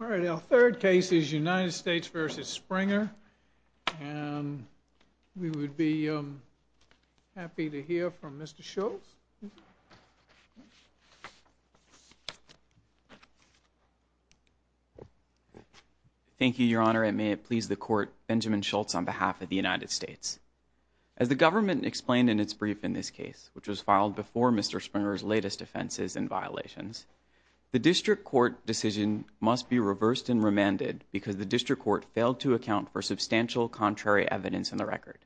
All right, our third case is United States v. Springer, and we would be happy to hear from Mr. Schultz. Thank you, Your Honor, and may it please the Court, Benjamin Schultz on behalf of the United States. As the government explained in its brief in this case, which was filed before Mr. Springer's latest offenses and violations, the District Court decision must be reversed and remanded because the District Court failed to account for substantial contrary evidence in the record.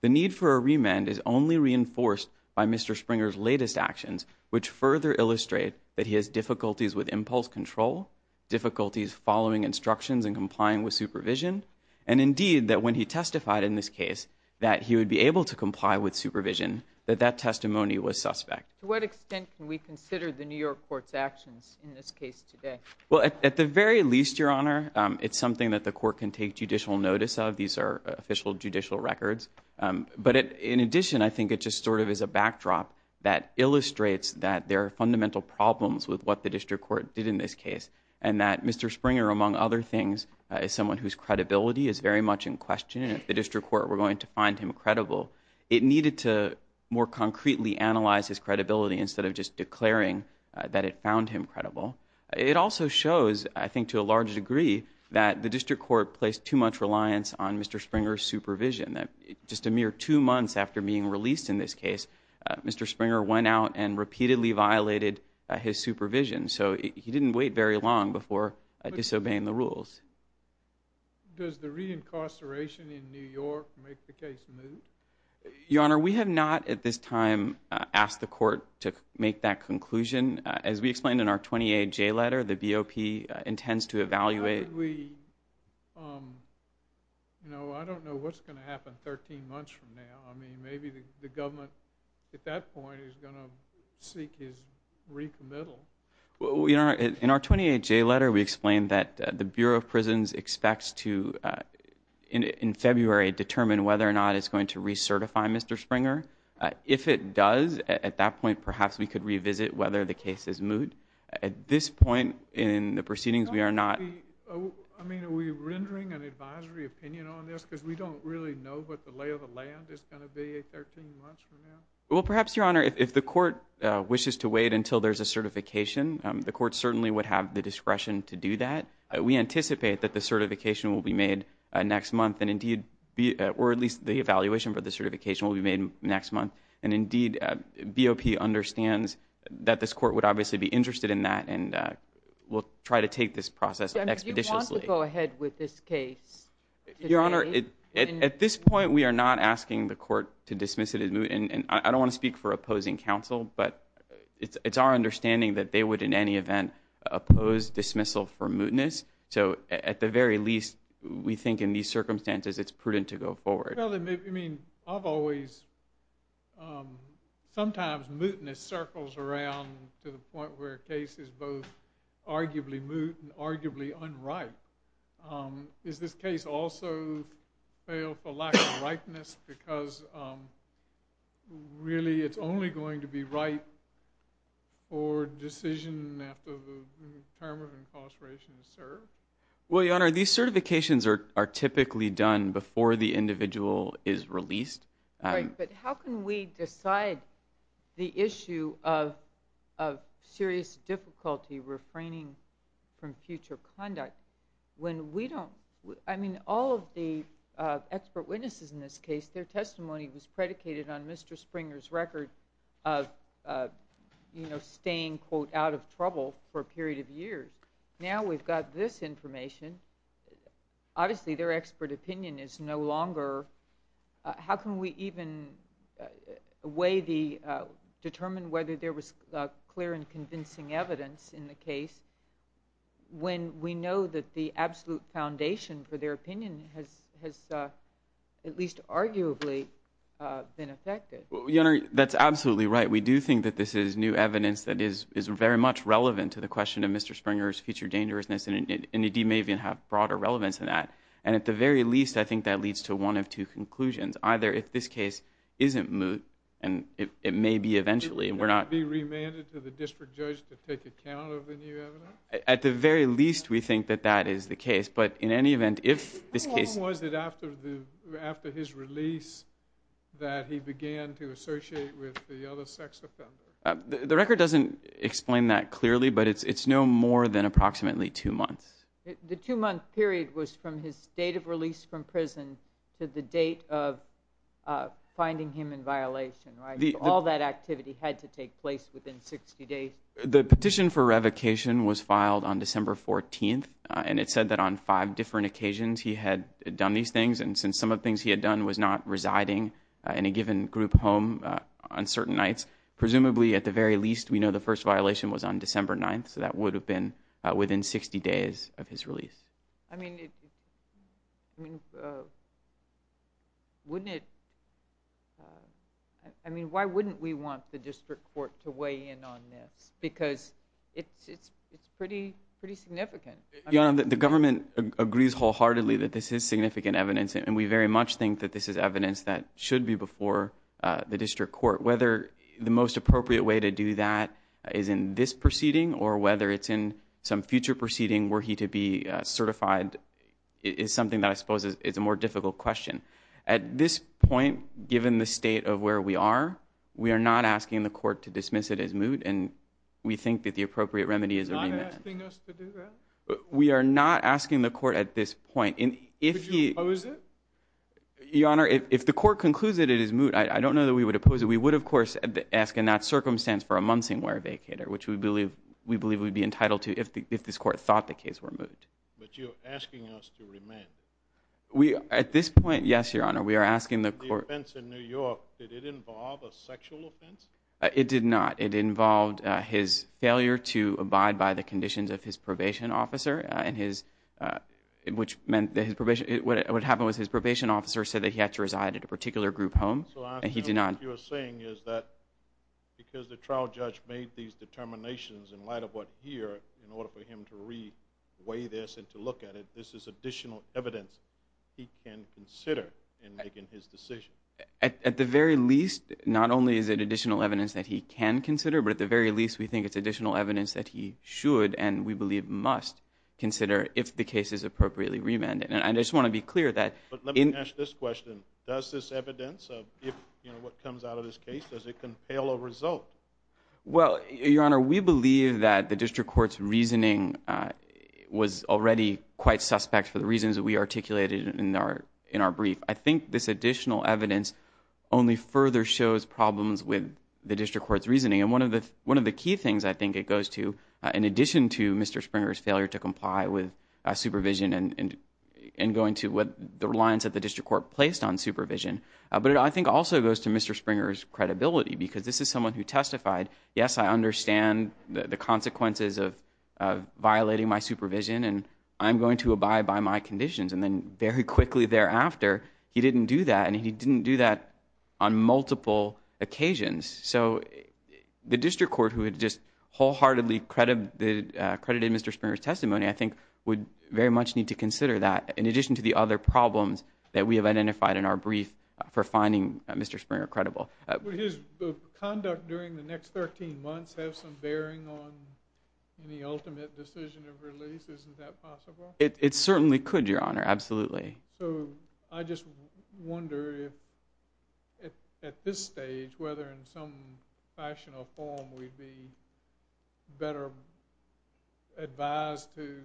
The need for a remand is only reinforced by Mr. Springer's latest actions, which further illustrate that he has difficulties with impulse control, difficulties following instructions and complying with supervision, and indeed that when he testified in this case that he would be able to comply with supervision, that that testimony was suspect. To what extent can we consider the New York Court's actions in this case today? Well, at the very least, Your Honor, it's something that the Court can take judicial notice of. These are official judicial records. But in addition, I think it just sort of is a backdrop that illustrates that there are fundamental problems with what the District Court did in this case and that Mr. Springer, among other things, is someone whose credibility is very much in question. And if the District Court were going to find him credible, it needed to more concretely analyze his credibility instead of just declaring that it found him credible. It also shows, I think to a large degree, that the District Court placed too much reliance on Mr. Springer's supervision, that just a mere two months after being released in this case, Mr. Springer went out and repeatedly violated his supervision. So he didn't wait very long before disobeying the rules. Does the re-incarceration in New York make the case moot? Your Honor, we have not at this time asked the Court to make that conclusion. As we explained in our 28J letter, the BOP intends to evaluate— How did we—I don't know what's going to happen 13 months from now. I mean, maybe the government at that point is going to seek his recommittal. In our 28J letter, we explained that the Bureau of Prisons expects to, in February, determine whether or not it's going to recertify Mr. Springer. If it does, at that point, perhaps we could revisit whether the case is moot. At this point in the proceedings, we are not— I mean, are we rendering an advisory opinion on this? Because we don't really know what the lay of the land is going to be 13 months from now. Well, perhaps, Your Honor, if the Court wishes to wait until there's a certification, the Court certainly would have the discretion to do that. We anticipate that the certification will be made next month, or at least the evaluation for the certification will be made next month. And indeed, BOP understands that this Court would obviously be interested in that and will try to take this process expeditiously. Do you want to go ahead with this case today? At this point, we are not asking the Court to dismiss it as moot. And I don't want to speak for opposing counsel, but it's our understanding that they would in any event oppose dismissal for mootness. So at the very least, we think in these circumstances it's prudent to go forward. Well, I mean, I've always—sometimes mootness circles around to the point where a case is both arguably moot and arguably unripe. Does this case also fail for lack of ripeness because really it's only going to be ripe for decision after the term of incarceration is served? Well, Your Honor, these certifications are typically done before the individual is released. But how can we decide the issue of serious difficulty refraining from future conduct when we don't—I mean, all of the expert witnesses in this case, their testimony was predicated on Mr. Springer's record of staying, quote, out of trouble for a period of years. Now we've got this information. Obviously, their expert opinion is no longer—how can we even weigh the—determine whether there was clear and convincing evidence in the case when we know that the absolute foundation for their opinion has at least arguably been affected? Your Honor, that's absolutely right. We do think that this is new evidence that is very much relevant to the question of Mr. Springer's future dangerousness, and it may even have broader relevance than that. And at the very least, I think that leads to one of two conclusions. Either if this case isn't moot, and it may be eventually, we're not— Could it be remanded to the district judge to take account of the new evidence? At the very least, we think that that is the case. But in any event, if this case— The record doesn't explain that clearly, but it's no more than approximately two months. The two-month period was from his date of release from prison to the date of finding him in violation, right? All that activity had to take place within 60 days. The petition for revocation was filed on December 14th, and it said that on five different occasions he had done these things, and since some of the things he had done was not residing in a given group home on certain nights, presumably, at the very least, we know the first violation was on December 9th, so that would have been within 60 days of his release. I mean, wouldn't it—I mean, why wouldn't we want the district court to weigh in on this? Because it's pretty significant. Your Honor, the government agrees wholeheartedly that this is significant evidence, and we very much think that this is evidence that should be before the district court. Whether the most appropriate way to do that is in this proceeding or whether it's in some future proceeding were he to be certified is something that I suppose is a more difficult question. At this point, given the state of where we are, we are not asking the court to dismiss it as moot, and we think that the appropriate remedy is a remand. You're not asking us to do that? We are not asking the court at this point. Would you oppose it? Your Honor, if the court concludes that it is moot, I don't know that we would oppose it. We would, of course, ask in that circumstance for a monsing wear vacator, which we believe we'd be entitled to if this court thought the case were moot. But you're asking us to remand. At this point, yes, Your Honor, we are asking the court— The offense in New York, did it involve a sexual offense? It did not. It involved his failure to abide by the conditions of his probation officer, which meant that what happened was his probation officer said that he had to reside at a particular group home, and he did not. So what you're saying is that because the trial judge made these determinations in light of what he heard in order for him to re-weigh this and to look at it, this is additional evidence he can consider in making his decision. At the very least, not only is it additional evidence that he can consider, but at the very least we think it's additional evidence that he should and we believe must consider if the case is appropriately remanded. And I just want to be clear that— But let me ask this question. Does this evidence of what comes out of this case, does it compel a result? Well, Your Honor, we believe that the district court's reasoning was already quite suspect for the reasons that we articulated in our brief. I think this additional evidence only further shows problems with the district court's reasoning. And one of the key things I think it goes to, in addition to Mr. Springer's failure to comply with supervision and going to the reliance that the district court placed on supervision, but I think it also goes to Mr. Springer's credibility because this is someone who testified, yes, I understand the consequences of violating my supervision and I'm going to abide by my conditions. And then very quickly thereafter, he didn't do that and he didn't do that on multiple occasions. So the district court, who had just wholeheartedly credited Mr. Springer's testimony, I think would very much need to consider that in addition to the other problems that we have identified in our brief for finding Mr. Springer credible. Would his conduct during the next 13 months have some bearing on any ultimate decision of release? Isn't that possible? It certainly could, Your Honor, absolutely. So I just wonder if at this stage, whether in some fashion or form, we'd be better advised to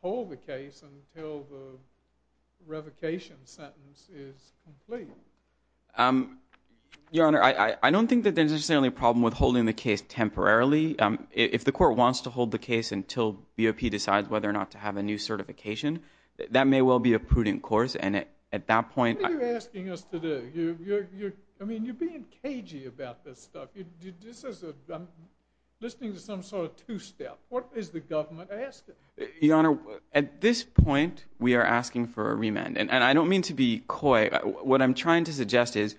hold the case until the revocation sentence is complete. Your Honor, I don't think that there's necessarily a problem with holding the case temporarily. If the court wants to hold the case until BOP decides whether or not to have a new certification, that may well be a prudent course. And at that point— What are you asking us to do? I mean, you're being cagey about this stuff. I'm listening to some sort of two-step. What is the government asking? Your Honor, at this point, we are asking for a remand. And I don't mean to be coy. What I'm trying to suggest is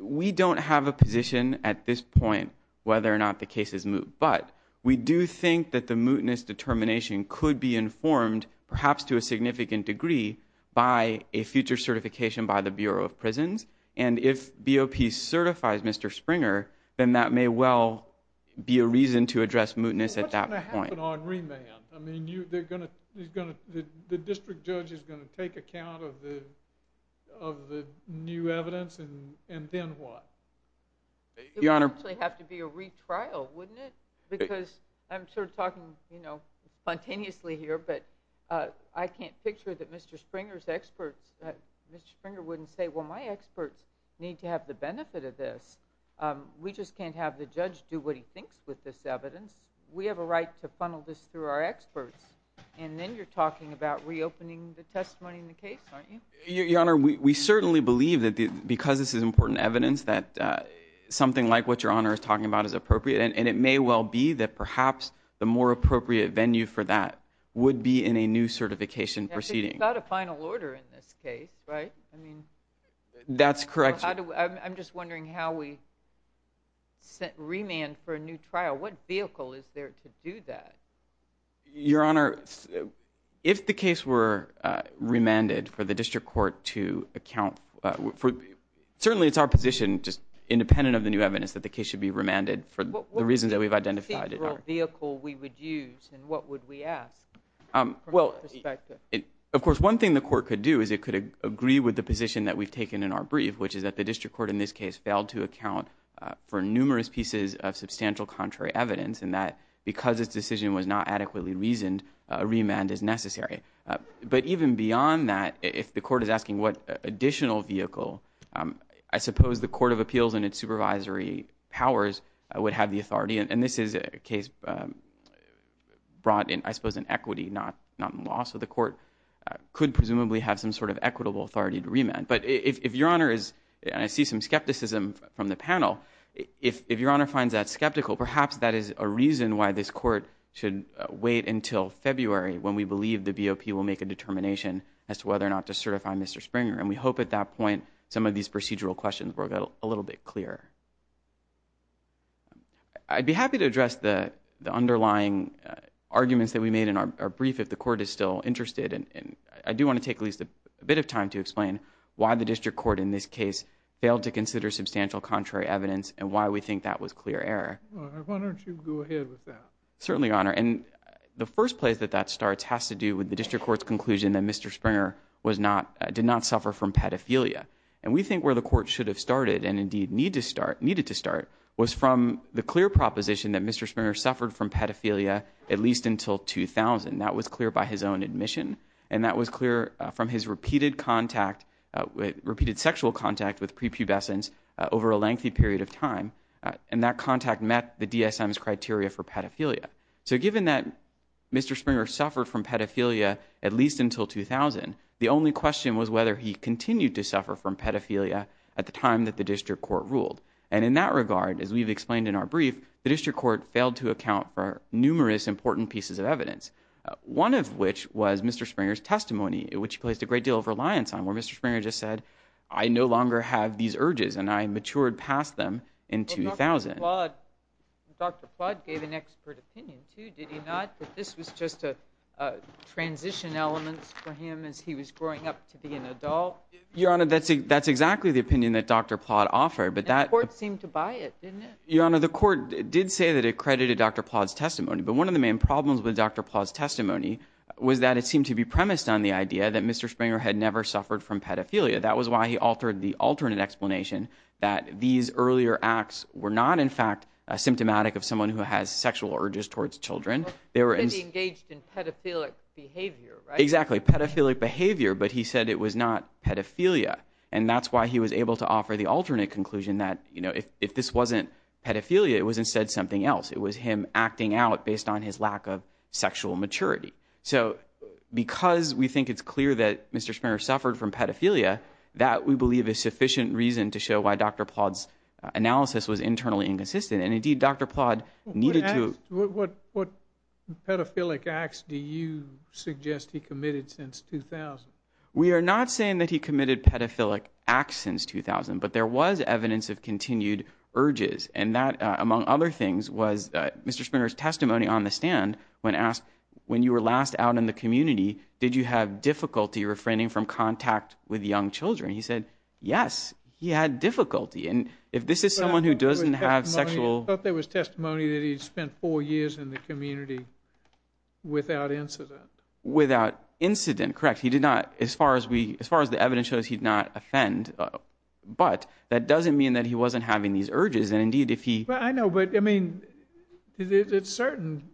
we don't have a position at this point whether or not the case is moot. But we do think that the mootness determination could be informed, perhaps to a significant degree, by a future certification by the Bureau of Prisons. And if BOP certifies Mr. Springer, then that may well be a reason to address mootness at that point. What's going to happen on remand? I mean, the district judge is going to take account of the new evidence, and then what? Your Honor— It would actually have to be a retrial, wouldn't it? Because I'm sort of talking spontaneously here, but I can't picture that Mr. Springer's experts— Mr. Springer wouldn't say, well, my experts need to have the benefit of this. We just can't have the judge do what he thinks with this evidence. We have a right to funnel this through our experts. And then you're talking about reopening the testimony in the case, aren't you? Your Honor, we certainly believe that because this is important evidence, that something like what Your Honor is talking about is appropriate. And it may well be that perhaps the more appropriate venue for that would be in a new certification proceeding. But you've got a final order in this case, right? That's correct. I'm just wondering how we remand for a new trial. What vehicle is there to do that? Your Honor, if the case were remanded for the district court to account— certainly it's our position, just independent of the new evidence, that the case should be remanded for the reasons that we've identified. What vehicle we would use and what would we ask? Of course, one thing the court could do is it could agree with the position that we've taken in our brief, which is that the district court in this case failed to account for numerous pieces of substantial contrary evidence and that because its decision was not adequately reasoned, a remand is necessary. But even beyond that, if the court is asking what additional vehicle, I suppose the Court of Appeals and its supervisory powers would have the authority. And this is a case brought in, I suppose, in equity, not in law. So the court could presumably have some sort of equitable authority to remand. But if Your Honor is—and I see some skepticism from the panel— if Your Honor finds that skeptical, perhaps that is a reason why this court should wait until February when we believe the BOP will make a determination as to whether or not to certify Mr. Springer. And we hope at that point some of these procedural questions will get a little bit clearer. I'd be happy to address the underlying arguments that we made in our brief if the court is still interested. And I do want to take at least a bit of time to explain why the district court in this case failed to consider substantial contrary evidence and why we think that was clear error. Why don't you go ahead with that? Certainly, Your Honor. And the first place that that starts has to do with the district court's conclusion that Mr. Springer did not suffer from pedophilia. And we think where the court should have started and indeed needed to start was from the clear proposition that Mr. Springer suffered from pedophilia at least until 2000. That was clear by his own admission. And that was clear from his repeated sexual contact with prepubescence over a lengthy period of time. And that contact met the DSM's criteria for pedophilia. So given that Mr. Springer suffered from pedophilia at least until 2000, the only question was whether he continued to suffer from pedophilia at the time that the district court ruled. And in that regard, as we've explained in our brief, the district court failed to account for numerous important pieces of evidence, one of which was Mr. Springer's testimony, which he placed a great deal of reliance on, where Mr. Springer just said, I no longer have these urges and I matured past them in 2000. But Dr. Plodd gave an expert opinion, too, did he not? That this was just a transition element for him as he was growing up to be an adult? Your Honor, that's exactly the opinion that Dr. Plodd offered. And the court seemed to buy it, didn't it? Your Honor, the court did say that it credited Dr. Plodd's testimony. But one of the main problems with Dr. Plodd's testimony was that it seemed to be premised on the idea that Mr. Springer had never suffered from pedophilia. That was why he altered the alternate explanation that these earlier acts were not, in fact, symptomatic of someone who has sexual urges towards children. They were engaged in pedophilic behavior, right? Exactly, pedophilic behavior, but he said it was not pedophilia. And that's why he was able to offer the alternate conclusion that, you know, if this wasn't pedophilia, it was instead something else. It was him acting out based on his lack of sexual maturity. So because we think it's clear that Mr. Springer suffered from pedophilia, that we believe is sufficient reason to show why Dr. Plodd's analysis was internally inconsistent. And, indeed, Dr. Plodd needed to – What pedophilic acts do you suggest he committed since 2000? We are not saying that he committed pedophilic acts since 2000, but there was evidence of continued urges. And that, among other things, was Mr. Springer's testimony on the stand when asked, when you were last out in the community, did you have difficulty refraining from contact with young children? He said, yes, he had difficulty. And if this is someone who doesn't have sexual – I thought there was testimony that he spent four years in the community without incident. Without incident, correct. He did not – as far as the evidence shows, he did not offend. But that doesn't mean that he wasn't having these urges. And, indeed, if he – Well, I know, but, I mean, at a certain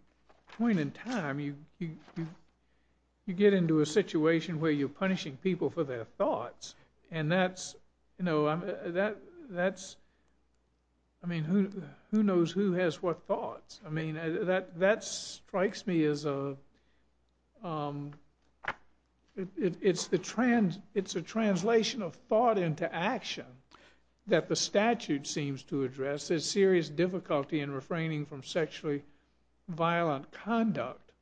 point in time, you get into a situation where you're punishing people for their thoughts. And that's – you know, that's – I mean, who knows who has what thoughts? I mean, that strikes me as a – it's a translation of thought into action that the statute seems to address as serious difficulty in refraining from sexually violent conduct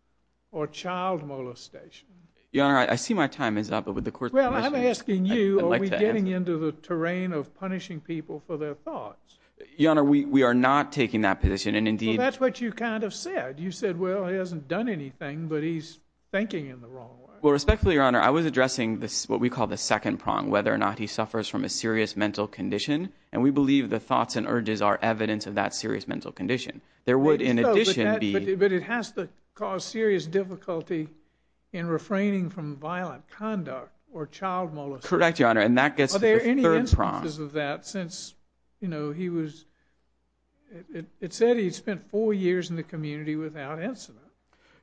or child molestation. Your Honor, I see my time is up, but would the Court – Well, I'm asking you, are we getting into the terrain of punishing people for their thoughts? Your Honor, we are not taking that position. And, indeed – Well, that's what you kind of said. You said, well, he hasn't done anything, but he's thinking in the wrong way. Well, respectfully, Your Honor, I was addressing what we call the second prong, whether or not he suffers from a serious mental condition. And we believe the thoughts and urges are evidence of that serious mental condition. There would, in addition, be – But it has to cause serious difficulty in refraining from violent conduct or child molestation. Correct, Your Honor. And that gets to the third prong. You know, he was – it said he spent four years in the community without incident.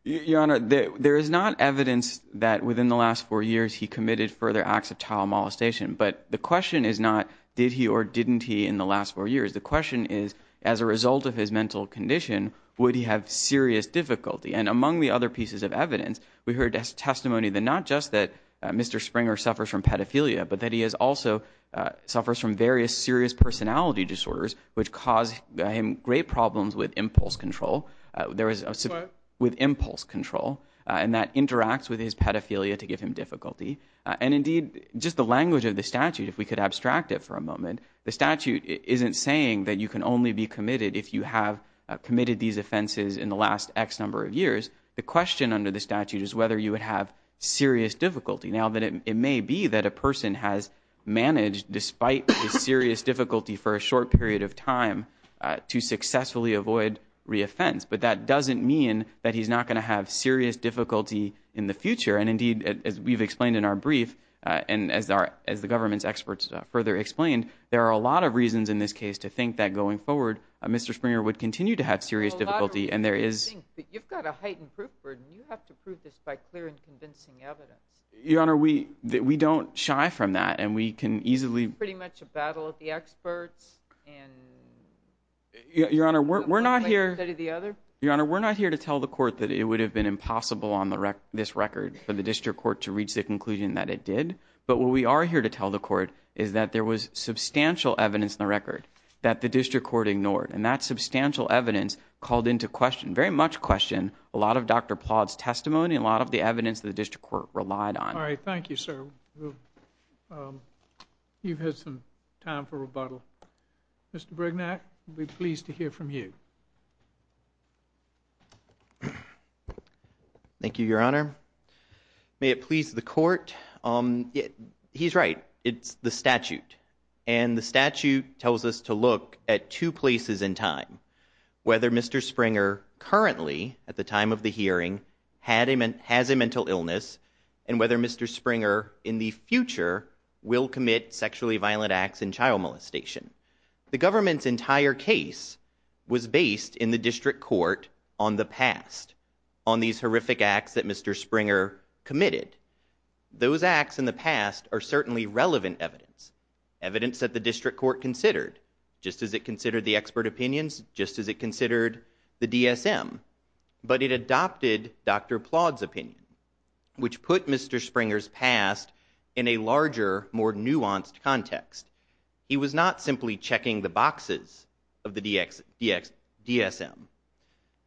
Your Honor, there is not evidence that within the last four years he committed further acts of child molestation. But the question is not did he or didn't he in the last four years. The question is, as a result of his mental condition, would he have serious difficulty? And among the other pieces of evidence, we heard testimony that not just that Mr. Springer suffers from pedophilia, but that he also suffers from various serious personality disorders, which cause him great problems with impulse control. What? With impulse control, and that interacts with his pedophilia to give him difficulty. And indeed, just the language of the statute, if we could abstract it for a moment, the statute isn't saying that you can only be committed if you have committed these offenses in the last X number of years. The question under the statute is whether you would have serious difficulty. Now, it may be that a person has managed, despite the serious difficulty for a short period of time, to successfully avoid re-offense. But that doesn't mean that he's not going to have serious difficulty in the future. And indeed, as we've explained in our brief, and as the government's experts further explained, there are a lot of reasons in this case to think that going forward Mr. Springer would continue to have serious difficulty. And there is – You've got a heightened proof burden. You have to prove this by clear and convincing evidence. Your Honor, we don't shy from that. And we can easily – It's pretty much a battle of the experts and – Your Honor, we're not here – One way to study the other. Your Honor, we're not here to tell the court that it would have been impossible on this record for the district court to reach the conclusion that it did. But what we are here to tell the court is that there was substantial evidence in the record that the district court ignored. And that substantial evidence called into question, very much questioned, a lot of Dr. Plodd's testimony, and a lot of the evidence that the district court relied on. All right. Thank you, sir. You've had some time for rebuttal. Mr. Brignac, we'd be pleased to hear from you. Thank you, Your Honor. May it please the court, he's right. It's the statute. And the statute tells us to look at two places in time. Whether Mr. Springer currently, at the time of the hearing, has a mental illness, and whether Mr. Springer in the future will commit sexually violent acts and child molestation. The government's entire case was based in the district court on the past. On these horrific acts that Mr. Springer committed. Those acts in the past are certainly relevant evidence. Evidence that the district court considered. Just as it considered the expert opinions, just as it considered the DSM. But it adopted Dr. Plodd's opinion, which put Mr. Springer's past in a larger, more nuanced context. He was not simply checking the boxes of the DSM.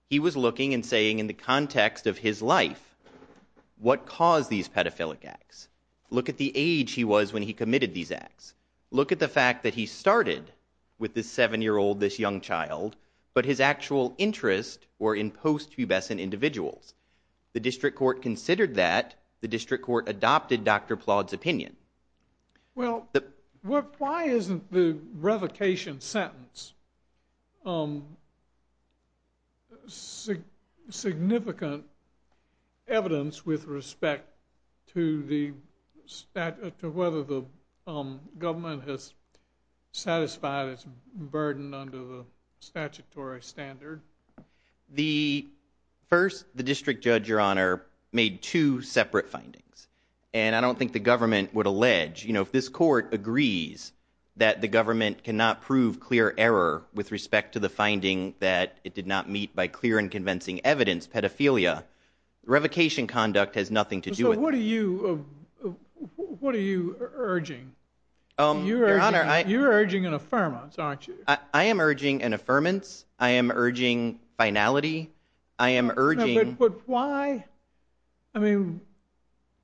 He was looking and saying in the context of his life, what caused these pedophilic acts? Look at the age he was when he committed these acts. Look at the fact that he started with this seven-year-old, this young child, but his actual interests were in post-pubescent individuals. The district court considered that. The district court adopted Dr. Plodd's opinion. Well, why isn't the revocation sentence significant evidence with respect to whether the government has satisfied its burden under the statutory standard? First, the district judge, Your Honor, made two separate findings. And I don't think the government would allege, you know, if this court agrees that the government cannot prove clear error with respect to the finding that it did not meet by clear and convincing evidence pedophilia, revocation conduct has nothing to do with it. So what are you urging? Your Honor, I... You're urging an affirmance, aren't you? I am urging an affirmance. I am urging finality. I am urging... But why? I mean,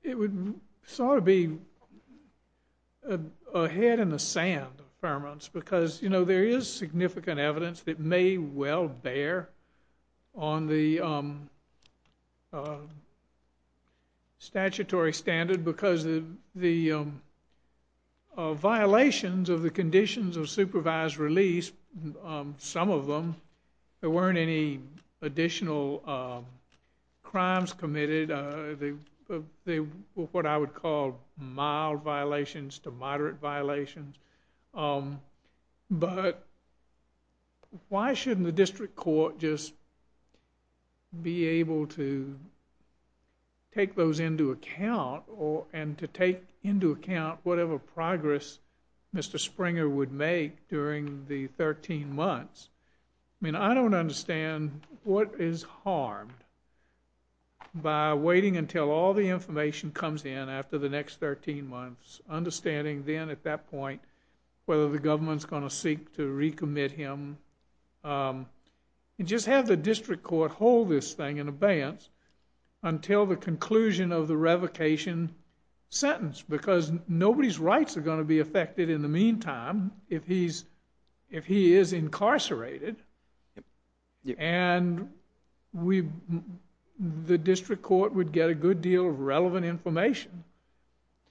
it would sort of be a head in the sand, affirmance, because, you know, there is significant evidence that may well bear on the statutory standard because the violations of the conditions of supervised release, some of them, there weren't any additional crimes committed. They were what I would call mild violations to moderate violations. But why shouldn't the district court just be able to take those into account and to take into account whatever progress Mr. Springer would make during the 13 months? I mean, I don't understand what is harmed by waiting until all the information comes in after the next 13 months, understanding then at that point whether the government's going to seek to recommit him. Just have the district court hold this thing in abeyance until the conclusion of the revocation sentence because nobody's rights are going to be affected in the meantime if he is incarcerated. And the district court would get a good deal of relevant information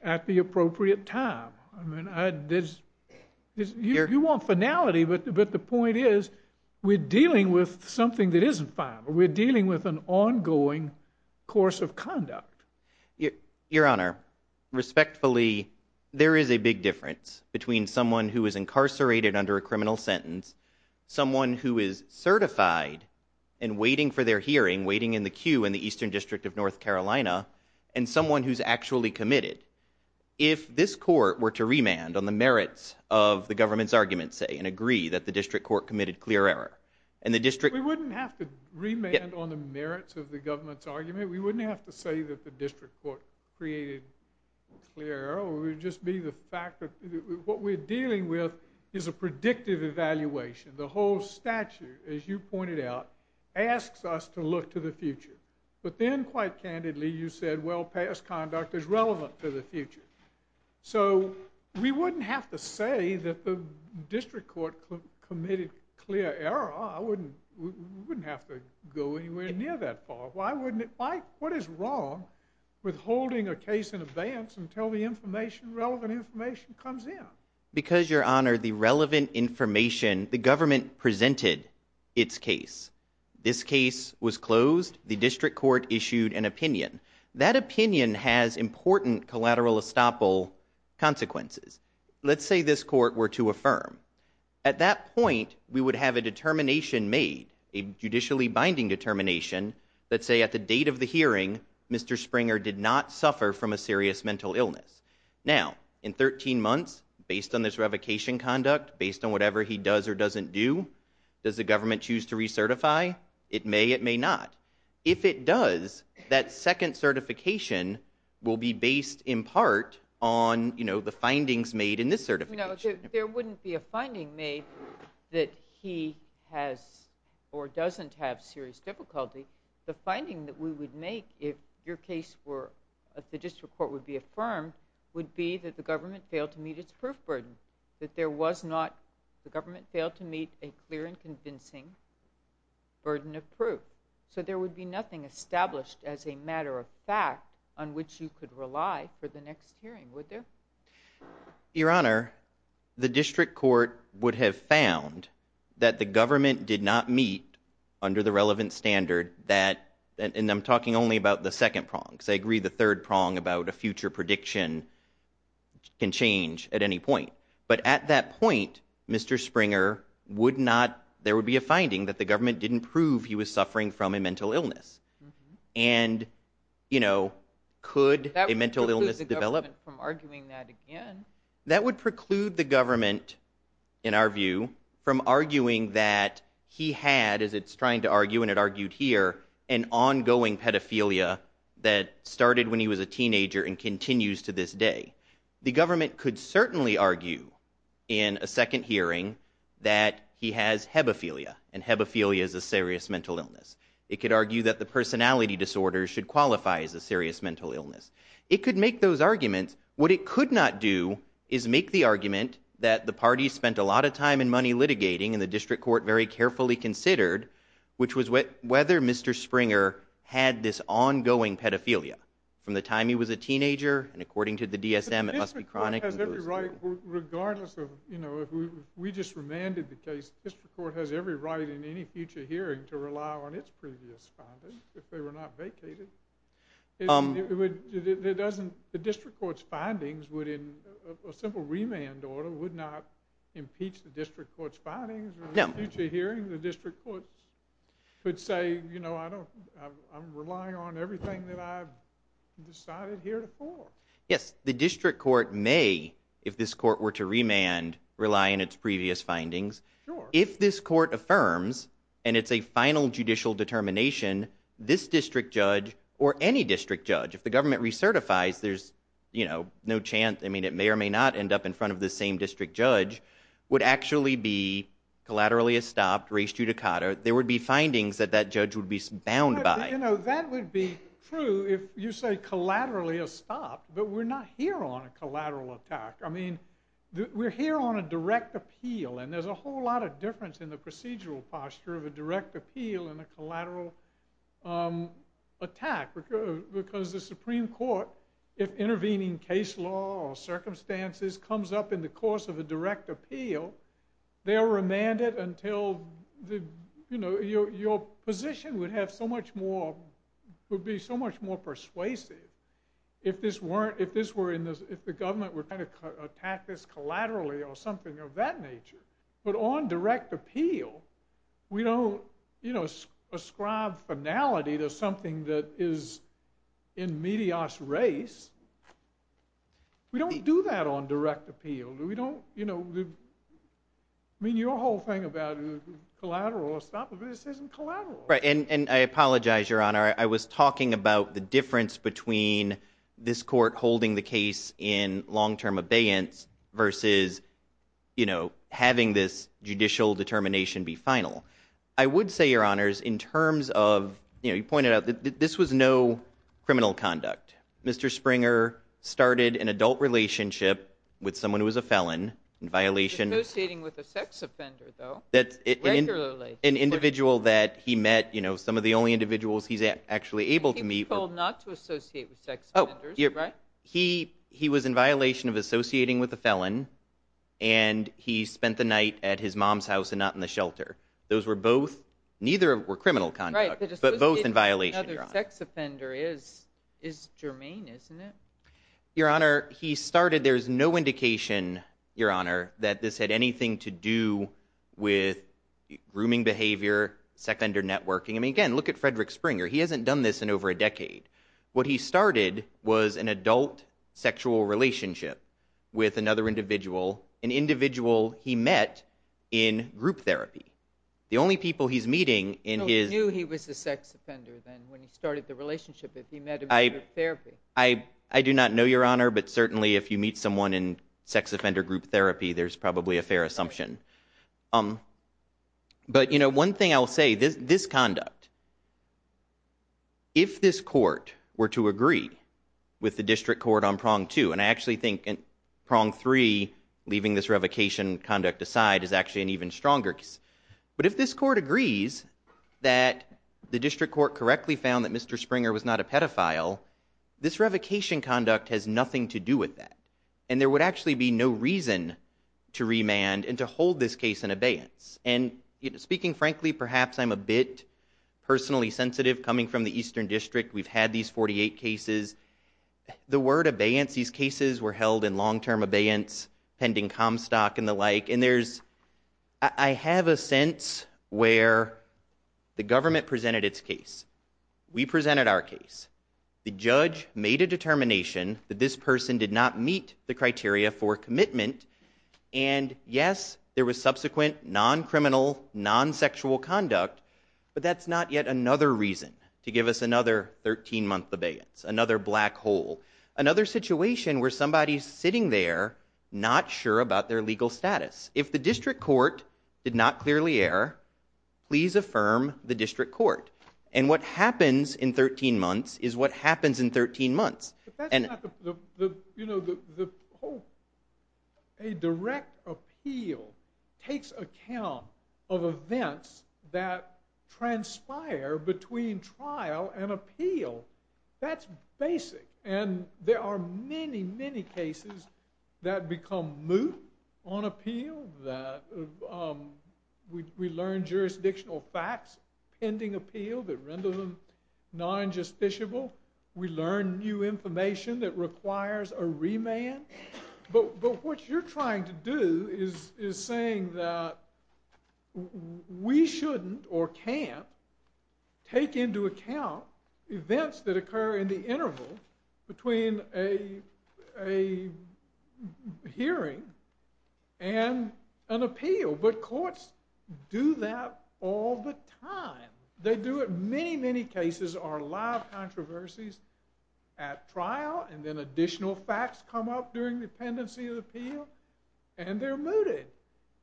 at the appropriate time. I mean, you want finality, but the point is we're dealing with something that isn't final. We're dealing with an ongoing course of conduct. Your Honor, respectfully, there is a big difference between someone who is incarcerated under a criminal sentence, someone who is certified and waiting for their hearing, waiting in the queue in the Eastern District of North Carolina, and someone who's actually committed. If this court were to remand on the merits of the government's argument, say, and agree that the district court committed clear error, and the district... We wouldn't have to remand on the merits of the government's argument. We wouldn't have to say that the district court created clear error. It would just be the fact that what we're dealing with is a predictive evaluation. The whole statute, as you pointed out, asks us to look to the future. But then, quite candidly, you said, well, past conduct is relevant to the future. So we wouldn't have to say that the district court committed clear error. We wouldn't have to go anywhere near that far. What is wrong with holding a case in advance until the information, relevant information, comes in? Because, Your Honor, the relevant information, the government presented its case. This case was closed. The district court issued an opinion. That opinion has important collateral estoppel consequences. Let's say this court were to affirm. At that point, we would have a determination made, a judicially binding determination, that say at the date of the hearing, Mr. Springer did not suffer from a serious mental illness. Now, in 13 months, based on this revocation conduct, based on whatever he does or doesn't do, does the government choose to recertify? It may, it may not. If it does, that second certification will be based, in part, on the findings made in this certification. There wouldn't be a finding made that he has or doesn't have serious difficulty. The finding that we would make if your case were, if the district court would be affirmed, would be that the government failed to meet its proof burden, that there was not, the government failed to meet a clear and convincing burden of proof. So there would be nothing established as a matter of fact on which you could rely for the next hearing, would there? Your Honor, the district court would have found that the government did not meet, under the relevant standard, that, and I'm talking only about the second prong, because I agree the third prong about a future prediction can change at any point. But at that point, Mr. Springer would not, there would be a finding that the government didn't prove he was suffering from a mental illness. And, you know, could a mental illness develop? That would preclude the government from arguing that again. That would preclude the government, in our view, from arguing that he had, as it's trying to argue and it argued here, an ongoing pedophilia that started when he was a teenager and continues to this day. The government could certainly argue in a second hearing that he has hebephilia, and hebephilia is a serious mental illness. It could argue that the personality disorder should qualify as a serious mental illness. It could make those arguments. What it could not do is make the argument that the party spent a lot of time and money litigating, and the district court very carefully considered, which was whether Mr. Springer had this ongoing pedophilia from the time he was a teenager, and according to the DSM, it must be chronic. The district court has every right, regardless of, you know, if we just remanded the case, the district court has every right in any future hearing to rely on its previous findings if they were not vacated. The district court's findings would, in a simple remand order, would not impeach the district court's findings in a future hearing? No. The district court could say, you know, I'm relying on everything that I've decided heretofore. Yes. The district court may, if this court were to remand, rely on its previous findings. Sure. If this court affirms, and it's a final judicial determination, this district judge or any district judge, if the government recertifies, there's, you know, no chance, I mean, it may or may not end up in front of the same district judge, would actually be collaterally estopped, res judicata. There would be findings that that judge would be bound by. You know, that would be true if you say collaterally estopped, but we're not here on a collateral attack. I mean, we're here on a direct appeal, and there's a whole lot of difference in the procedural posture of a direct appeal and a collateral attack. Because the Supreme Court, if intervening case law or circumstances comes up in the course of a direct appeal, they'll remand it until, you know, your position would have so much more, would be so much more persuasive if this were, if the government were trying to attack this collaterally or something of that nature. But on direct appeal, we don't, you know, ascribe finality to something that is in medias res. We don't do that on direct appeal. We don't, you know, I mean, your whole thing about collateral estoppage, this isn't collateral. Right, and I apologize, Your Honor. I was talking about the difference between this court holding the case in long-term abeyance versus, you know, having this judicial determination be final. I would say, Your Honors, in terms of, you know, you pointed out that this was no criminal conduct. Mr. Springer started an adult relationship with someone who was a felon in violation. Associating with a sex offender, though, regularly. An individual that he met, you know, some of the only individuals he's actually able to meet. And he was told not to associate with sex offenders, right? He was in violation of associating with a felon, and he spent the night at his mom's house and not in the shelter. Those were both, neither were criminal conduct, but both in violation, Your Honor. Right, but associating with another sex offender is germane, isn't it? Your Honor, he started, there's no indication, Your Honor, that this had anything to do with grooming behavior, sex under networking. I mean, again, look at Frederick Springer. He hasn't done this in over a decade. What he started was an adult sexual relationship with another individual, an individual he met in group therapy. The only people he's meeting in his... So he knew he was a sex offender then, when he started the relationship, if he met him in group therapy. I do not know, Your Honor, but certainly, if you meet someone in sex offender group therapy, there's probably a fair assumption. But, you know, one thing I'll say, this conduct. If this court were to agree with the district court on prong two, and I actually think prong three, leaving this revocation conduct aside, is actually an even stronger case. But if this court agrees that the district court correctly found that Mr. Springer was not a pedophile, this revocation conduct has nothing to do with that. And there would actually be no reason to remand and to hold this case in abeyance. And speaking frankly, perhaps I'm a bit personally sensitive. Coming from the Eastern District, we've had these 48 cases. The word abeyance, these cases were held in long-term abeyance, pending Comstock and the like, and there's... I have a sense where the government presented its case. We presented our case. The judge made a determination that this person did not meet the criteria for commitment. And yes, there was subsequent non-criminal, non-sexual conduct, but that's not yet another reason to give us another 13-month abeyance, another black hole, another situation where somebody's sitting there not sure about their legal status. If the district court did not clearly err, please affirm the district court. And what happens in 13 months is what happens in 13 months. But that's not the... You know, the whole... A direct appeal takes account of events that transpire between trial and appeal. That's basic. And there are many, many cases that become moot on appeal. We learn jurisdictional facts pending appeal that render them non-justiciable. We learn new information that requires a remand. But what you're trying to do is saying that we shouldn't or can't take into account events that occur in the interval between a hearing and an appeal. But courts do that all the time. They do it. Many, many cases are live controversies at trial, and then additional facts come up during the pendency of the appeal, and they're mooted.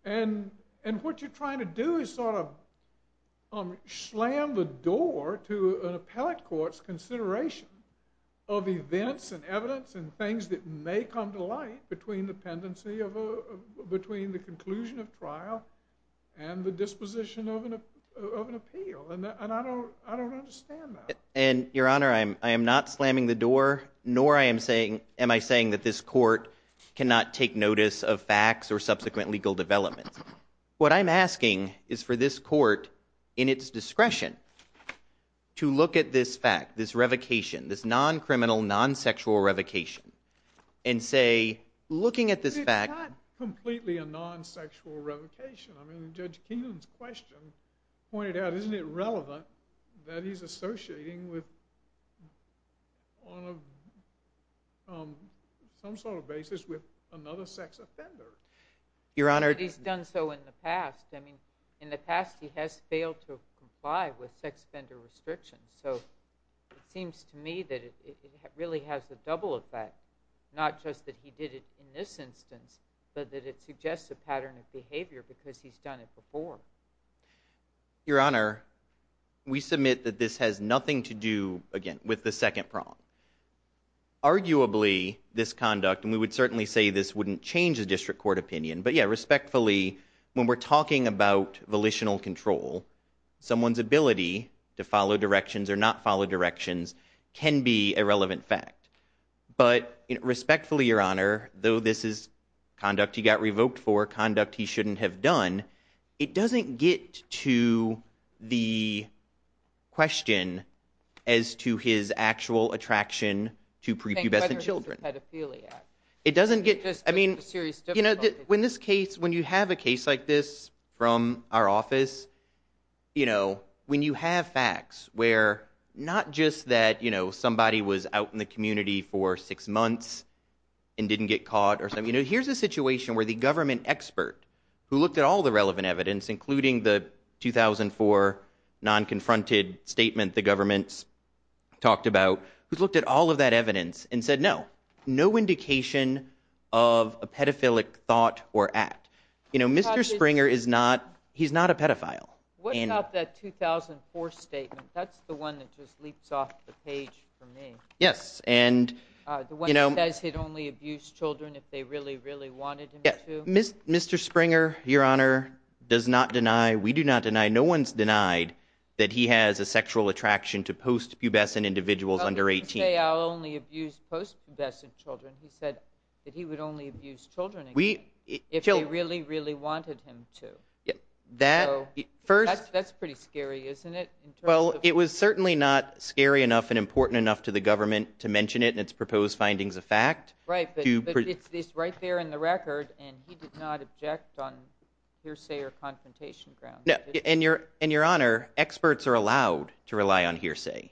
And what you're trying to do is sort of slam the door to an appellate court's consideration of events and evidence and things that may come to light between the pendency of a... between the conclusion of trial and the disposition of an appeal. And I don't understand that. And, Your Honor, I am not slamming the door, nor am I saying that this court cannot take notice of facts or subsequent legal developments. What I'm asking is for this court, in its discretion, to look at this fact, this revocation, this non-criminal, non-sexual revocation, and say, looking at this fact... I mean, Judge Keenan's question pointed out, isn't it relevant that he's associating with... on some sort of basis with another sex offender? Your Honor... But he's done so in the past. I mean, in the past, he has failed to comply with sex offender restrictions. So it seems to me that it really has a double effect, not just that he did it in this instance, but that it suggests a pattern of behavior because he's done it before. Your Honor, we submit that this has nothing to do, again, with the second prong. Arguably, this conduct, and we would certainly say this wouldn't change the district court opinion, but, yeah, respectfully, when we're talking about volitional control, someone's ability to follow directions or not follow directions can be a relevant fact. But respectfully, Your Honor, though this is conduct he got revoked for, conduct he shouldn't have done, it doesn't get to the question as to his actual attraction to prepubescent children. It doesn't get... I mean, you know, when this case... when you have a case like this from our office, you know, when you have facts where not just that, you know, somebody was out in the community for six months and didn't get caught or something, you know, here's a situation where the government expert who looked at all the relevant evidence, including the 2004 non-confronted statement the government's talked about, who's looked at all of that evidence and said, no, no indication of a pedophilic thought or act. You know, Mr. Springer is not... he's not a pedophile. What about that 2004 statement? That's the one that just leaps off the page for me. Yes, and... The one that says he'd only abuse children if they really, really wanted him to? Mr. Springer, Your Honor, does not deny, we do not deny, no one's denied that he has a sexual attraction to post-pubescent individuals under 18. Well, he didn't say I'll only abuse post-pubescent children. He said that he would only abuse children if they really, really wanted him to. That, first... That's pretty scary, isn't it? Well, it was certainly not scary enough and important enough to the government to mention it in its proposed findings of fact. Right, but it's right there in the record, and he did not object on hearsay or confrontation grounds. And, Your Honor, experts are allowed to rely on hearsay.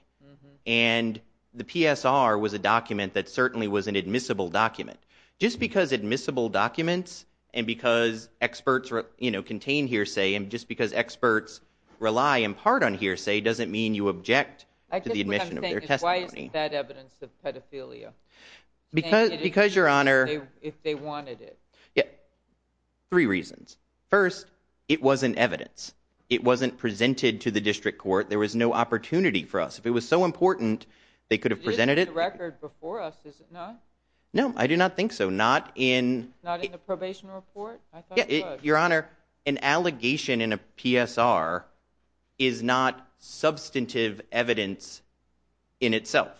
And the PSR was a document that certainly was an admissible document. Just because admissible documents and because experts, you know, contain hearsay and just because experts rely in part on hearsay doesn't mean you object to the admission of their testimony. Why isn't that evidence of pedophilia? Because, Your Honor... If they wanted it. Three reasons. First, it wasn't evidence. It wasn't presented to the district court. There was no opportunity for us. If it was so important, they could have presented it. It is in the record before us, is it not? No, I do not think so. Not in... Not in the probation report? I thought it was. Your Honor, an allegation in a PSR is not substantive evidence in itself.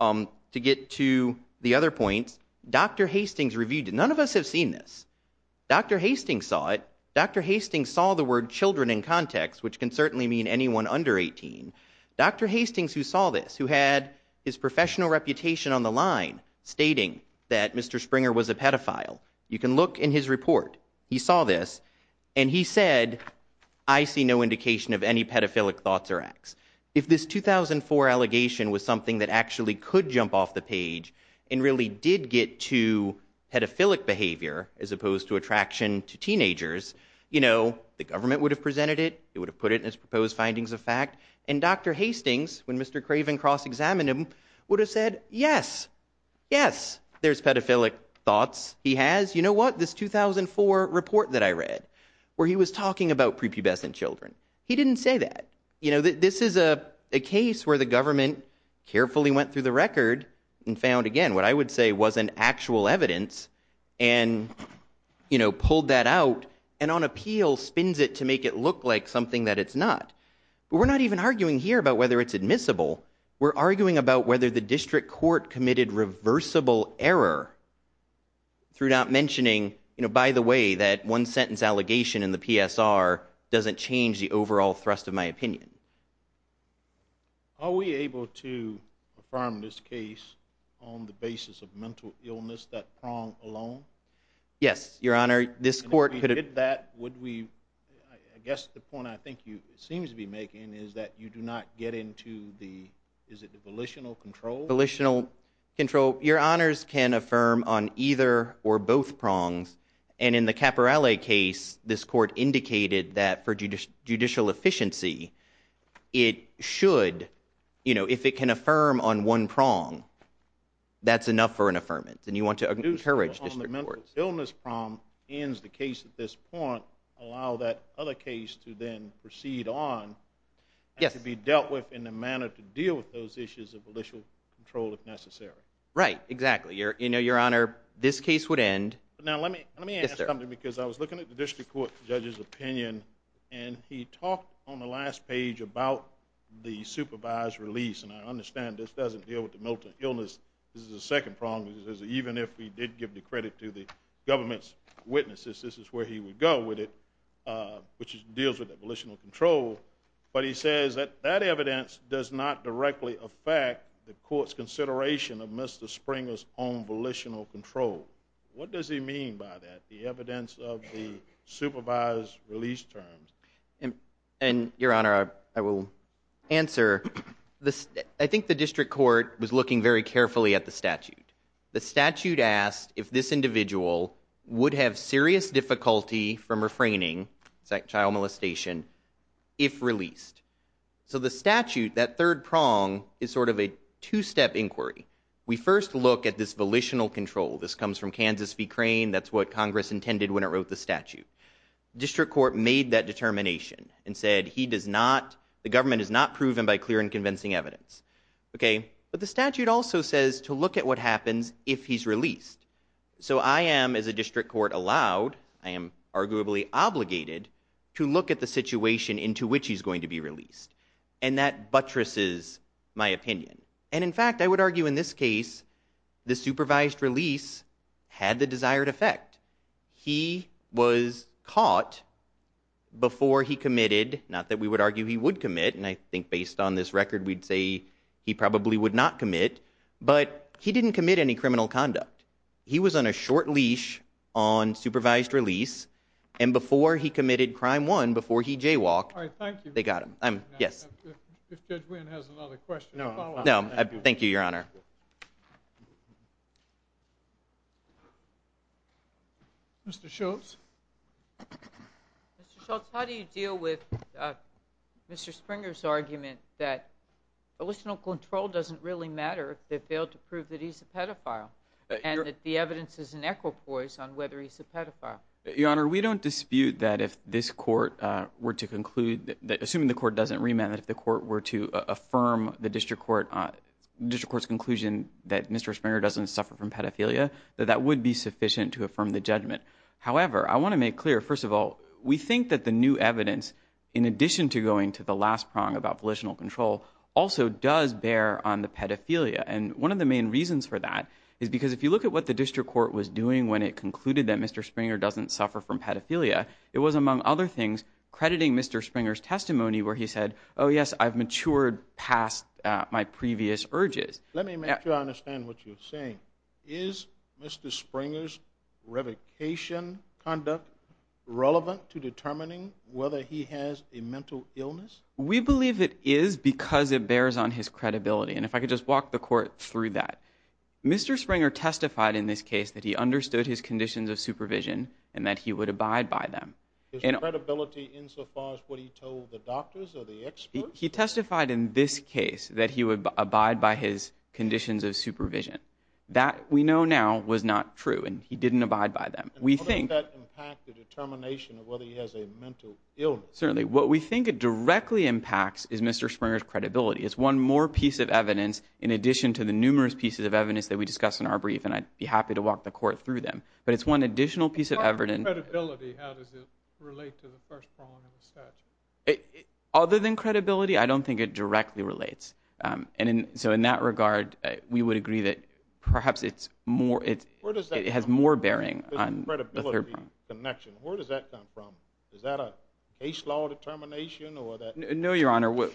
To get to the other points, Dr. Hastings reviewed it. None of us have seen this. Dr. Hastings saw it. Dr. Hastings saw the word children in context, which can certainly mean anyone under 18. Dr. Hastings, who saw this, who had his professional reputation on the line stating that Mr. Springer was a pedophile, you can look in his report. He saw this, and he said, I see no indication of any pedophilic thoughts or acts. If this 2004 allegation was something that actually could jump off the page and really did get to pedophilic behavior as opposed to attraction to teenagers, you know, the government would have presented it, it would have put it in its proposed findings of fact, and Dr. Hastings, when Mr. Craven cross-examined him, would have said, yes, yes, there's pedophilic thoughts he has. He would have said, yes, you know what, this 2004 report that I read where he was talking about prepubescent children. He didn't say that. You know, this is a case where the government carefully went through the record and found, again, what I would say wasn't actual evidence and, you know, pulled that out and on appeal spins it to make it look like something that it's not. But we're not even arguing here about whether it's admissible. We're arguing about whether the district court committed reversible error through not mentioning, you know, by the way, that one-sentence allegation in the PSR doesn't change the overall thrust of my opinion. Are we able to affirm this case on the basis of mental illness, that prong alone? Yes, Your Honor, this court could... And if we did that, would we... I guess the point I think you seem to be making is that you do not get into the... Volitional control. Your Honors can affirm on either or both prongs. And in the Caporelli case, this court indicated that for judicial efficiency, it should, you know, if it can affirm on one prong, that's enough for an affirmance. And you want to encourage district court. ...on the mental illness prong ends the case at this point, allow that other case to then proceed on... Yes. ...to be dealt with in a manner to deal with those issues of volitional control if necessary. Right, exactly. You know, Your Honor, this case would end... Now, let me ask something, because I was looking at the district court judge's opinion, and he talked on the last page about the supervised release. And I understand this doesn't deal with the mental illness. This is a second prong, because even if he did give the credit to the government's witnesses, this is where he would go with it, which deals with the volitional control. But he says that that evidence does not directly affect the court's consideration of Mr. Springer's own volitional control. What does he mean by that, the evidence of the supervised release terms? And, Your Honor, I will answer. I think the district court was looking very carefully at the statute. The statute asked if this individual would have serious difficulty from refraining, child molestation, if released. So the statute, that third prong, is sort of a two-step inquiry. We first look at this volitional control. This comes from Kansas v. Crane. That's what Congress intended when it wrote the statute. District court made that determination and said he does not, the government has not proven by clear and convincing evidence. Okay, but the statute also says to look at what happens if he's released. So I am, as a district court, allowed, I am arguably obligated, to look at the situation into which he's going to be released. And that buttresses my opinion. And in fact, I would argue in this case, the supervised release had the desired effect. He was caught before he committed, not that we would argue he would commit, and I think based on this record, we'd say he probably would not commit, but he didn't commit any criminal conduct. He was on a short leash on supervised release, and before he committed crime one, before he jaywalked, they got him. All right, thank you. Yes. If Judge Wynn has another question. No, thank you, Your Honor. Mr. Schultz? Mr. Schultz, how do you deal with Mr. Springer's argument that volitional control doesn't really matter if they failed to prove that he's a pedophile? And that the evidence is an equipoise on whether he's a pedophile. Your Honor, we don't dispute that if this court were to conclude, assuming the court doesn't remand, that if the court were to affirm the district court's conclusion that Mr. Springer doesn't suffer from pedophilia, that that would be sufficient to affirm the judgment. However, I want to make clear, first of all, we think that the new evidence, in addition to going to the last prong about volitional control, also does bear on the pedophilia. And one of the main reasons for that is because if you look at what the district court was doing when it concluded that Mr. Springer doesn't suffer from pedophilia, it was, among other things, crediting Mr. Springer's testimony where he said, oh, yes, I've matured past my previous urges. Let me make sure I understand what you're saying. Is Mr. Springer's revocation conduct relevant to determining whether he has a mental illness? We believe it is because it bears on his credibility. And if I could just walk the court through that. Mr. Springer testified in this case that he understood his conditions of supervision and that he would abide by them. His credibility insofar as what he told the doctors or the experts? He testified in this case that he would abide by his conditions of supervision. That, we know now, was not true, and he didn't abide by them. And how does that impact the determination of whether he has a mental illness? Certainly, what we think it directly impacts is Mr. Springer's credibility. It's one more piece of evidence in addition to the numerous pieces of evidence that we discussed in our brief, and I'd be happy to walk the court through them. But it's one additional piece of evidence. Other than credibility, how does it relate to the first prong of the statute? Other than credibility, I don't think it directly relates. And so in that regard, we would agree that perhaps it's more... Where does that come from, the credibility connection? Where does that come from? Is that a case law determination or that...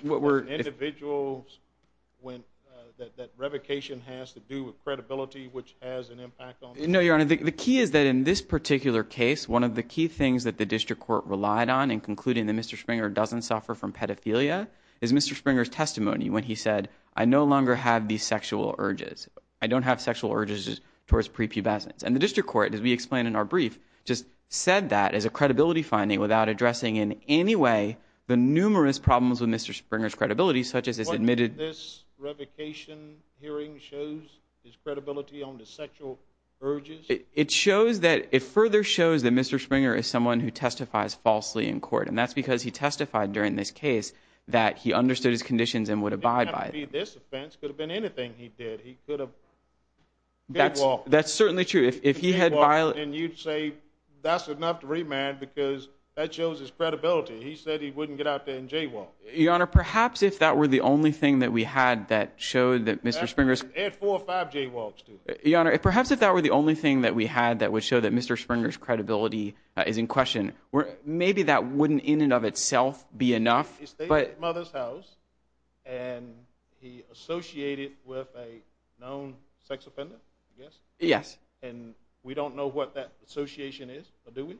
That revocation has to do with credibility, which has an impact on... No, Your Honor, the key is that in this particular case, one of the key things that the district court relied on in concluding that Mr. Springer doesn't suffer from pedophilia is Mr. Springer's testimony when he said, I no longer have these sexual urges. I don't have sexual urges towards prepubescence. And the district court, as we explained in our brief, just said that as a credibility finding without addressing in any way the numerous problems with Mr. Springer's credibility such as his admitted... What did this revocation hearing show? His credibility on the sexual urges? It shows that... It further shows that Mr. Springer is someone who testifies falsely in court, and that's because he testified during this case that he understood his conditions and would abide by them. It didn't have to be this offense. It could have been anything he did. He could have... That's certainly true. If he had violated... And you'd say that's enough to remand because that shows his credibility. He said he wouldn't get out there and jaywalk. Your Honor, perhaps if that were the only thing that we had that showed that Mr. Springer's... Add four or five jaywalks to it. Your Honor, perhaps if that were the only thing that we had that would show that Mr. Springer's credibility is in question, maybe that wouldn't in and of itself be enough, but... He stayed at his mother's house, and he associated with a known sex offender, I guess? Yes. And we don't know what that association is, but do we?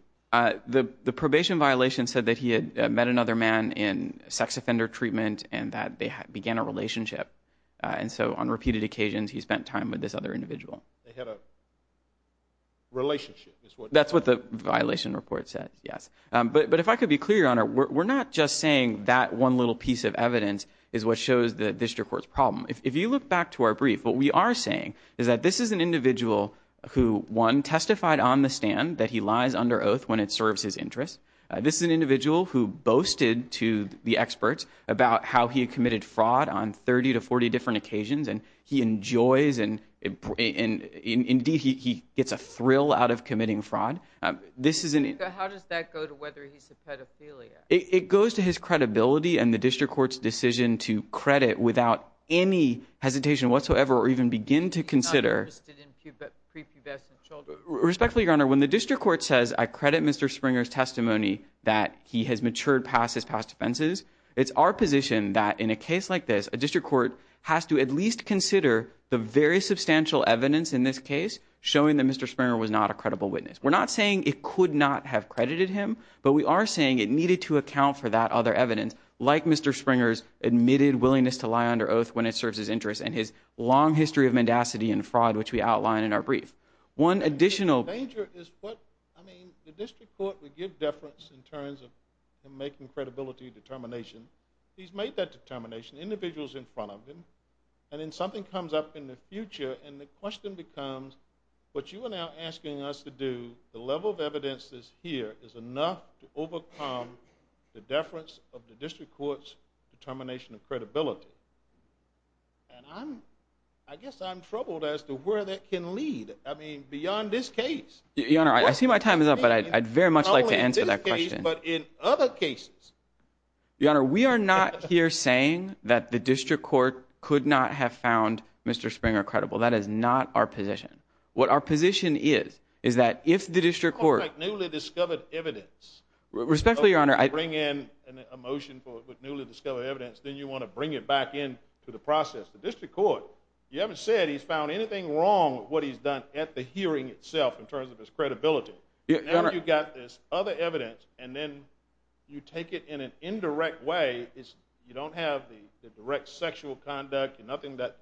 The probation violation said that he had met another man in sex offender treatment and that they began a relationship. And so on repeated occasions, he spent time with this other individual. They had a relationship is what... That's what the violation report says, yes. But if I could be clear, Your Honor, we're not just saying that one little piece of evidence is what shows the district court's problem. If you look back to our brief, what we are saying is that this is an individual who, one, testified on the stand that he lies under oath when it serves his interests. This is an individual who boasted to the experts about how he had committed fraud on 30 to 40 different occasions, and he enjoys and, indeed, he gets a thrill out of committing fraud. How does that go to whether he's a pedophilia? It goes to his credibility and the district court's decision to credit without any hesitation whatsoever or even begin to consider... He's not interested in prepubescent children. Respectfully, Your Honor, when the district court says, I credit Mr. Springer's testimony that he has matured past his past offenses, it's our position that in a case like this, a district court has to at least consider the very substantial evidence in this case showing that Mr. Springer was not a credible witness. We're not saying it could not have credited him, but we are saying it needed to account for that other evidence, like Mr. Springer's admitted willingness to lie under oath when it serves his interests and his long history of mendacity and fraud, which we outline in our brief. One additional... The danger is what... I mean, the district court would give deference in terms of him making credibility determination. He's made that determination, the individual's in front of him, and then something comes up in the future, and the question becomes, what you are now asking us to do, the level of evidence that's here is enough to overcome the deference of the district court's determination of credibility. And I'm... I guess I'm troubled as to where that can lead. I mean, beyond this case. Your Honor, I see my time is up, but I'd very much like to answer that question. But in other cases... Your Honor, we are not here saying that the district court could not have found Mr. Springer credible. That is not our position. What our position is is that if the district court... ...newly discovered evidence... Respectfully, Your Honor, I... ...bring in a motion with newly discovered evidence, then you want to bring it back in to the process. The district court, you haven't said he's found anything wrong with what he's done at the hearing itself in terms of his credibility. Now you've got this other evidence, and then you take it in an indirect way. You don't have the direct sexual conduct, nothing that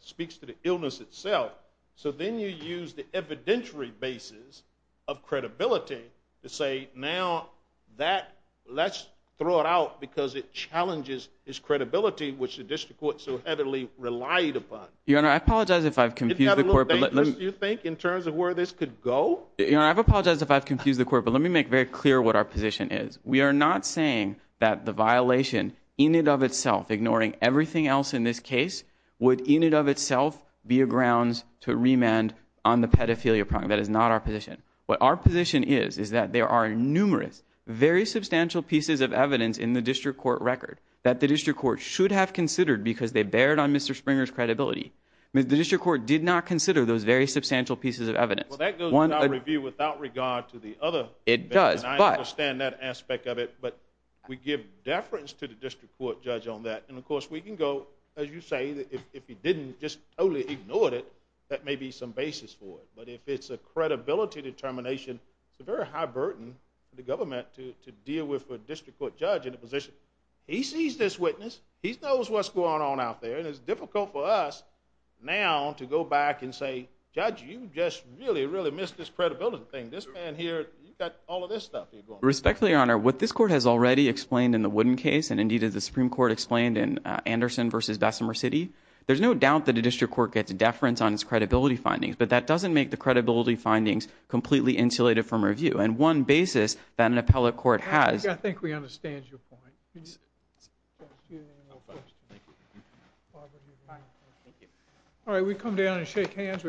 speaks to the illness itself. So then you use the evidentiary basis of credibility to say, now that... ...which the district court so heavily relied upon. Your Honor, I apologize if I've confused the court... Isn't that a little dangerous, you think, in terms of where this could go? Your Honor, I apologize if I've confused the court, but let me make very clear what our position is. We are not saying that the violation in and of itself, ignoring everything else in this case, would in and of itself be a grounds to remand on the pedophilia problem. That is not our position. What our position is is that there are numerous, very substantial pieces of evidence in the district court record that the district court should have considered because they bared on Mr. Springer's credibility. The district court did not consider those very substantial pieces of evidence. Well, that goes without review, without regard to the other... It does, but... ...and I understand that aspect of it, but we give deference to the district court judge on that. And, of course, we can go, as you say, if he didn't just totally ignore it, that may be some basis for it. But if it's a credibility determination, it's a very high burden for the government to deal with for a district court judge in a position... He sees this witness, he knows what's going on out there, and it's difficult for us now to go back and say, judge, you just really, really missed this credibility thing. This man here, you got all of this stuff... Respectfully, Your Honor, what this court has already explained in the Wooden case, and, indeed, as the Supreme Court explained in Anderson v. Bessemer City, there's no doubt that a district court gets deference on its credibility findings, but that doesn't make the credibility findings completely insulated from review. And one basis that an appellate court has... I think we understand your point. Thank you. Thank you. Thank you. All right, we come down and shake hands.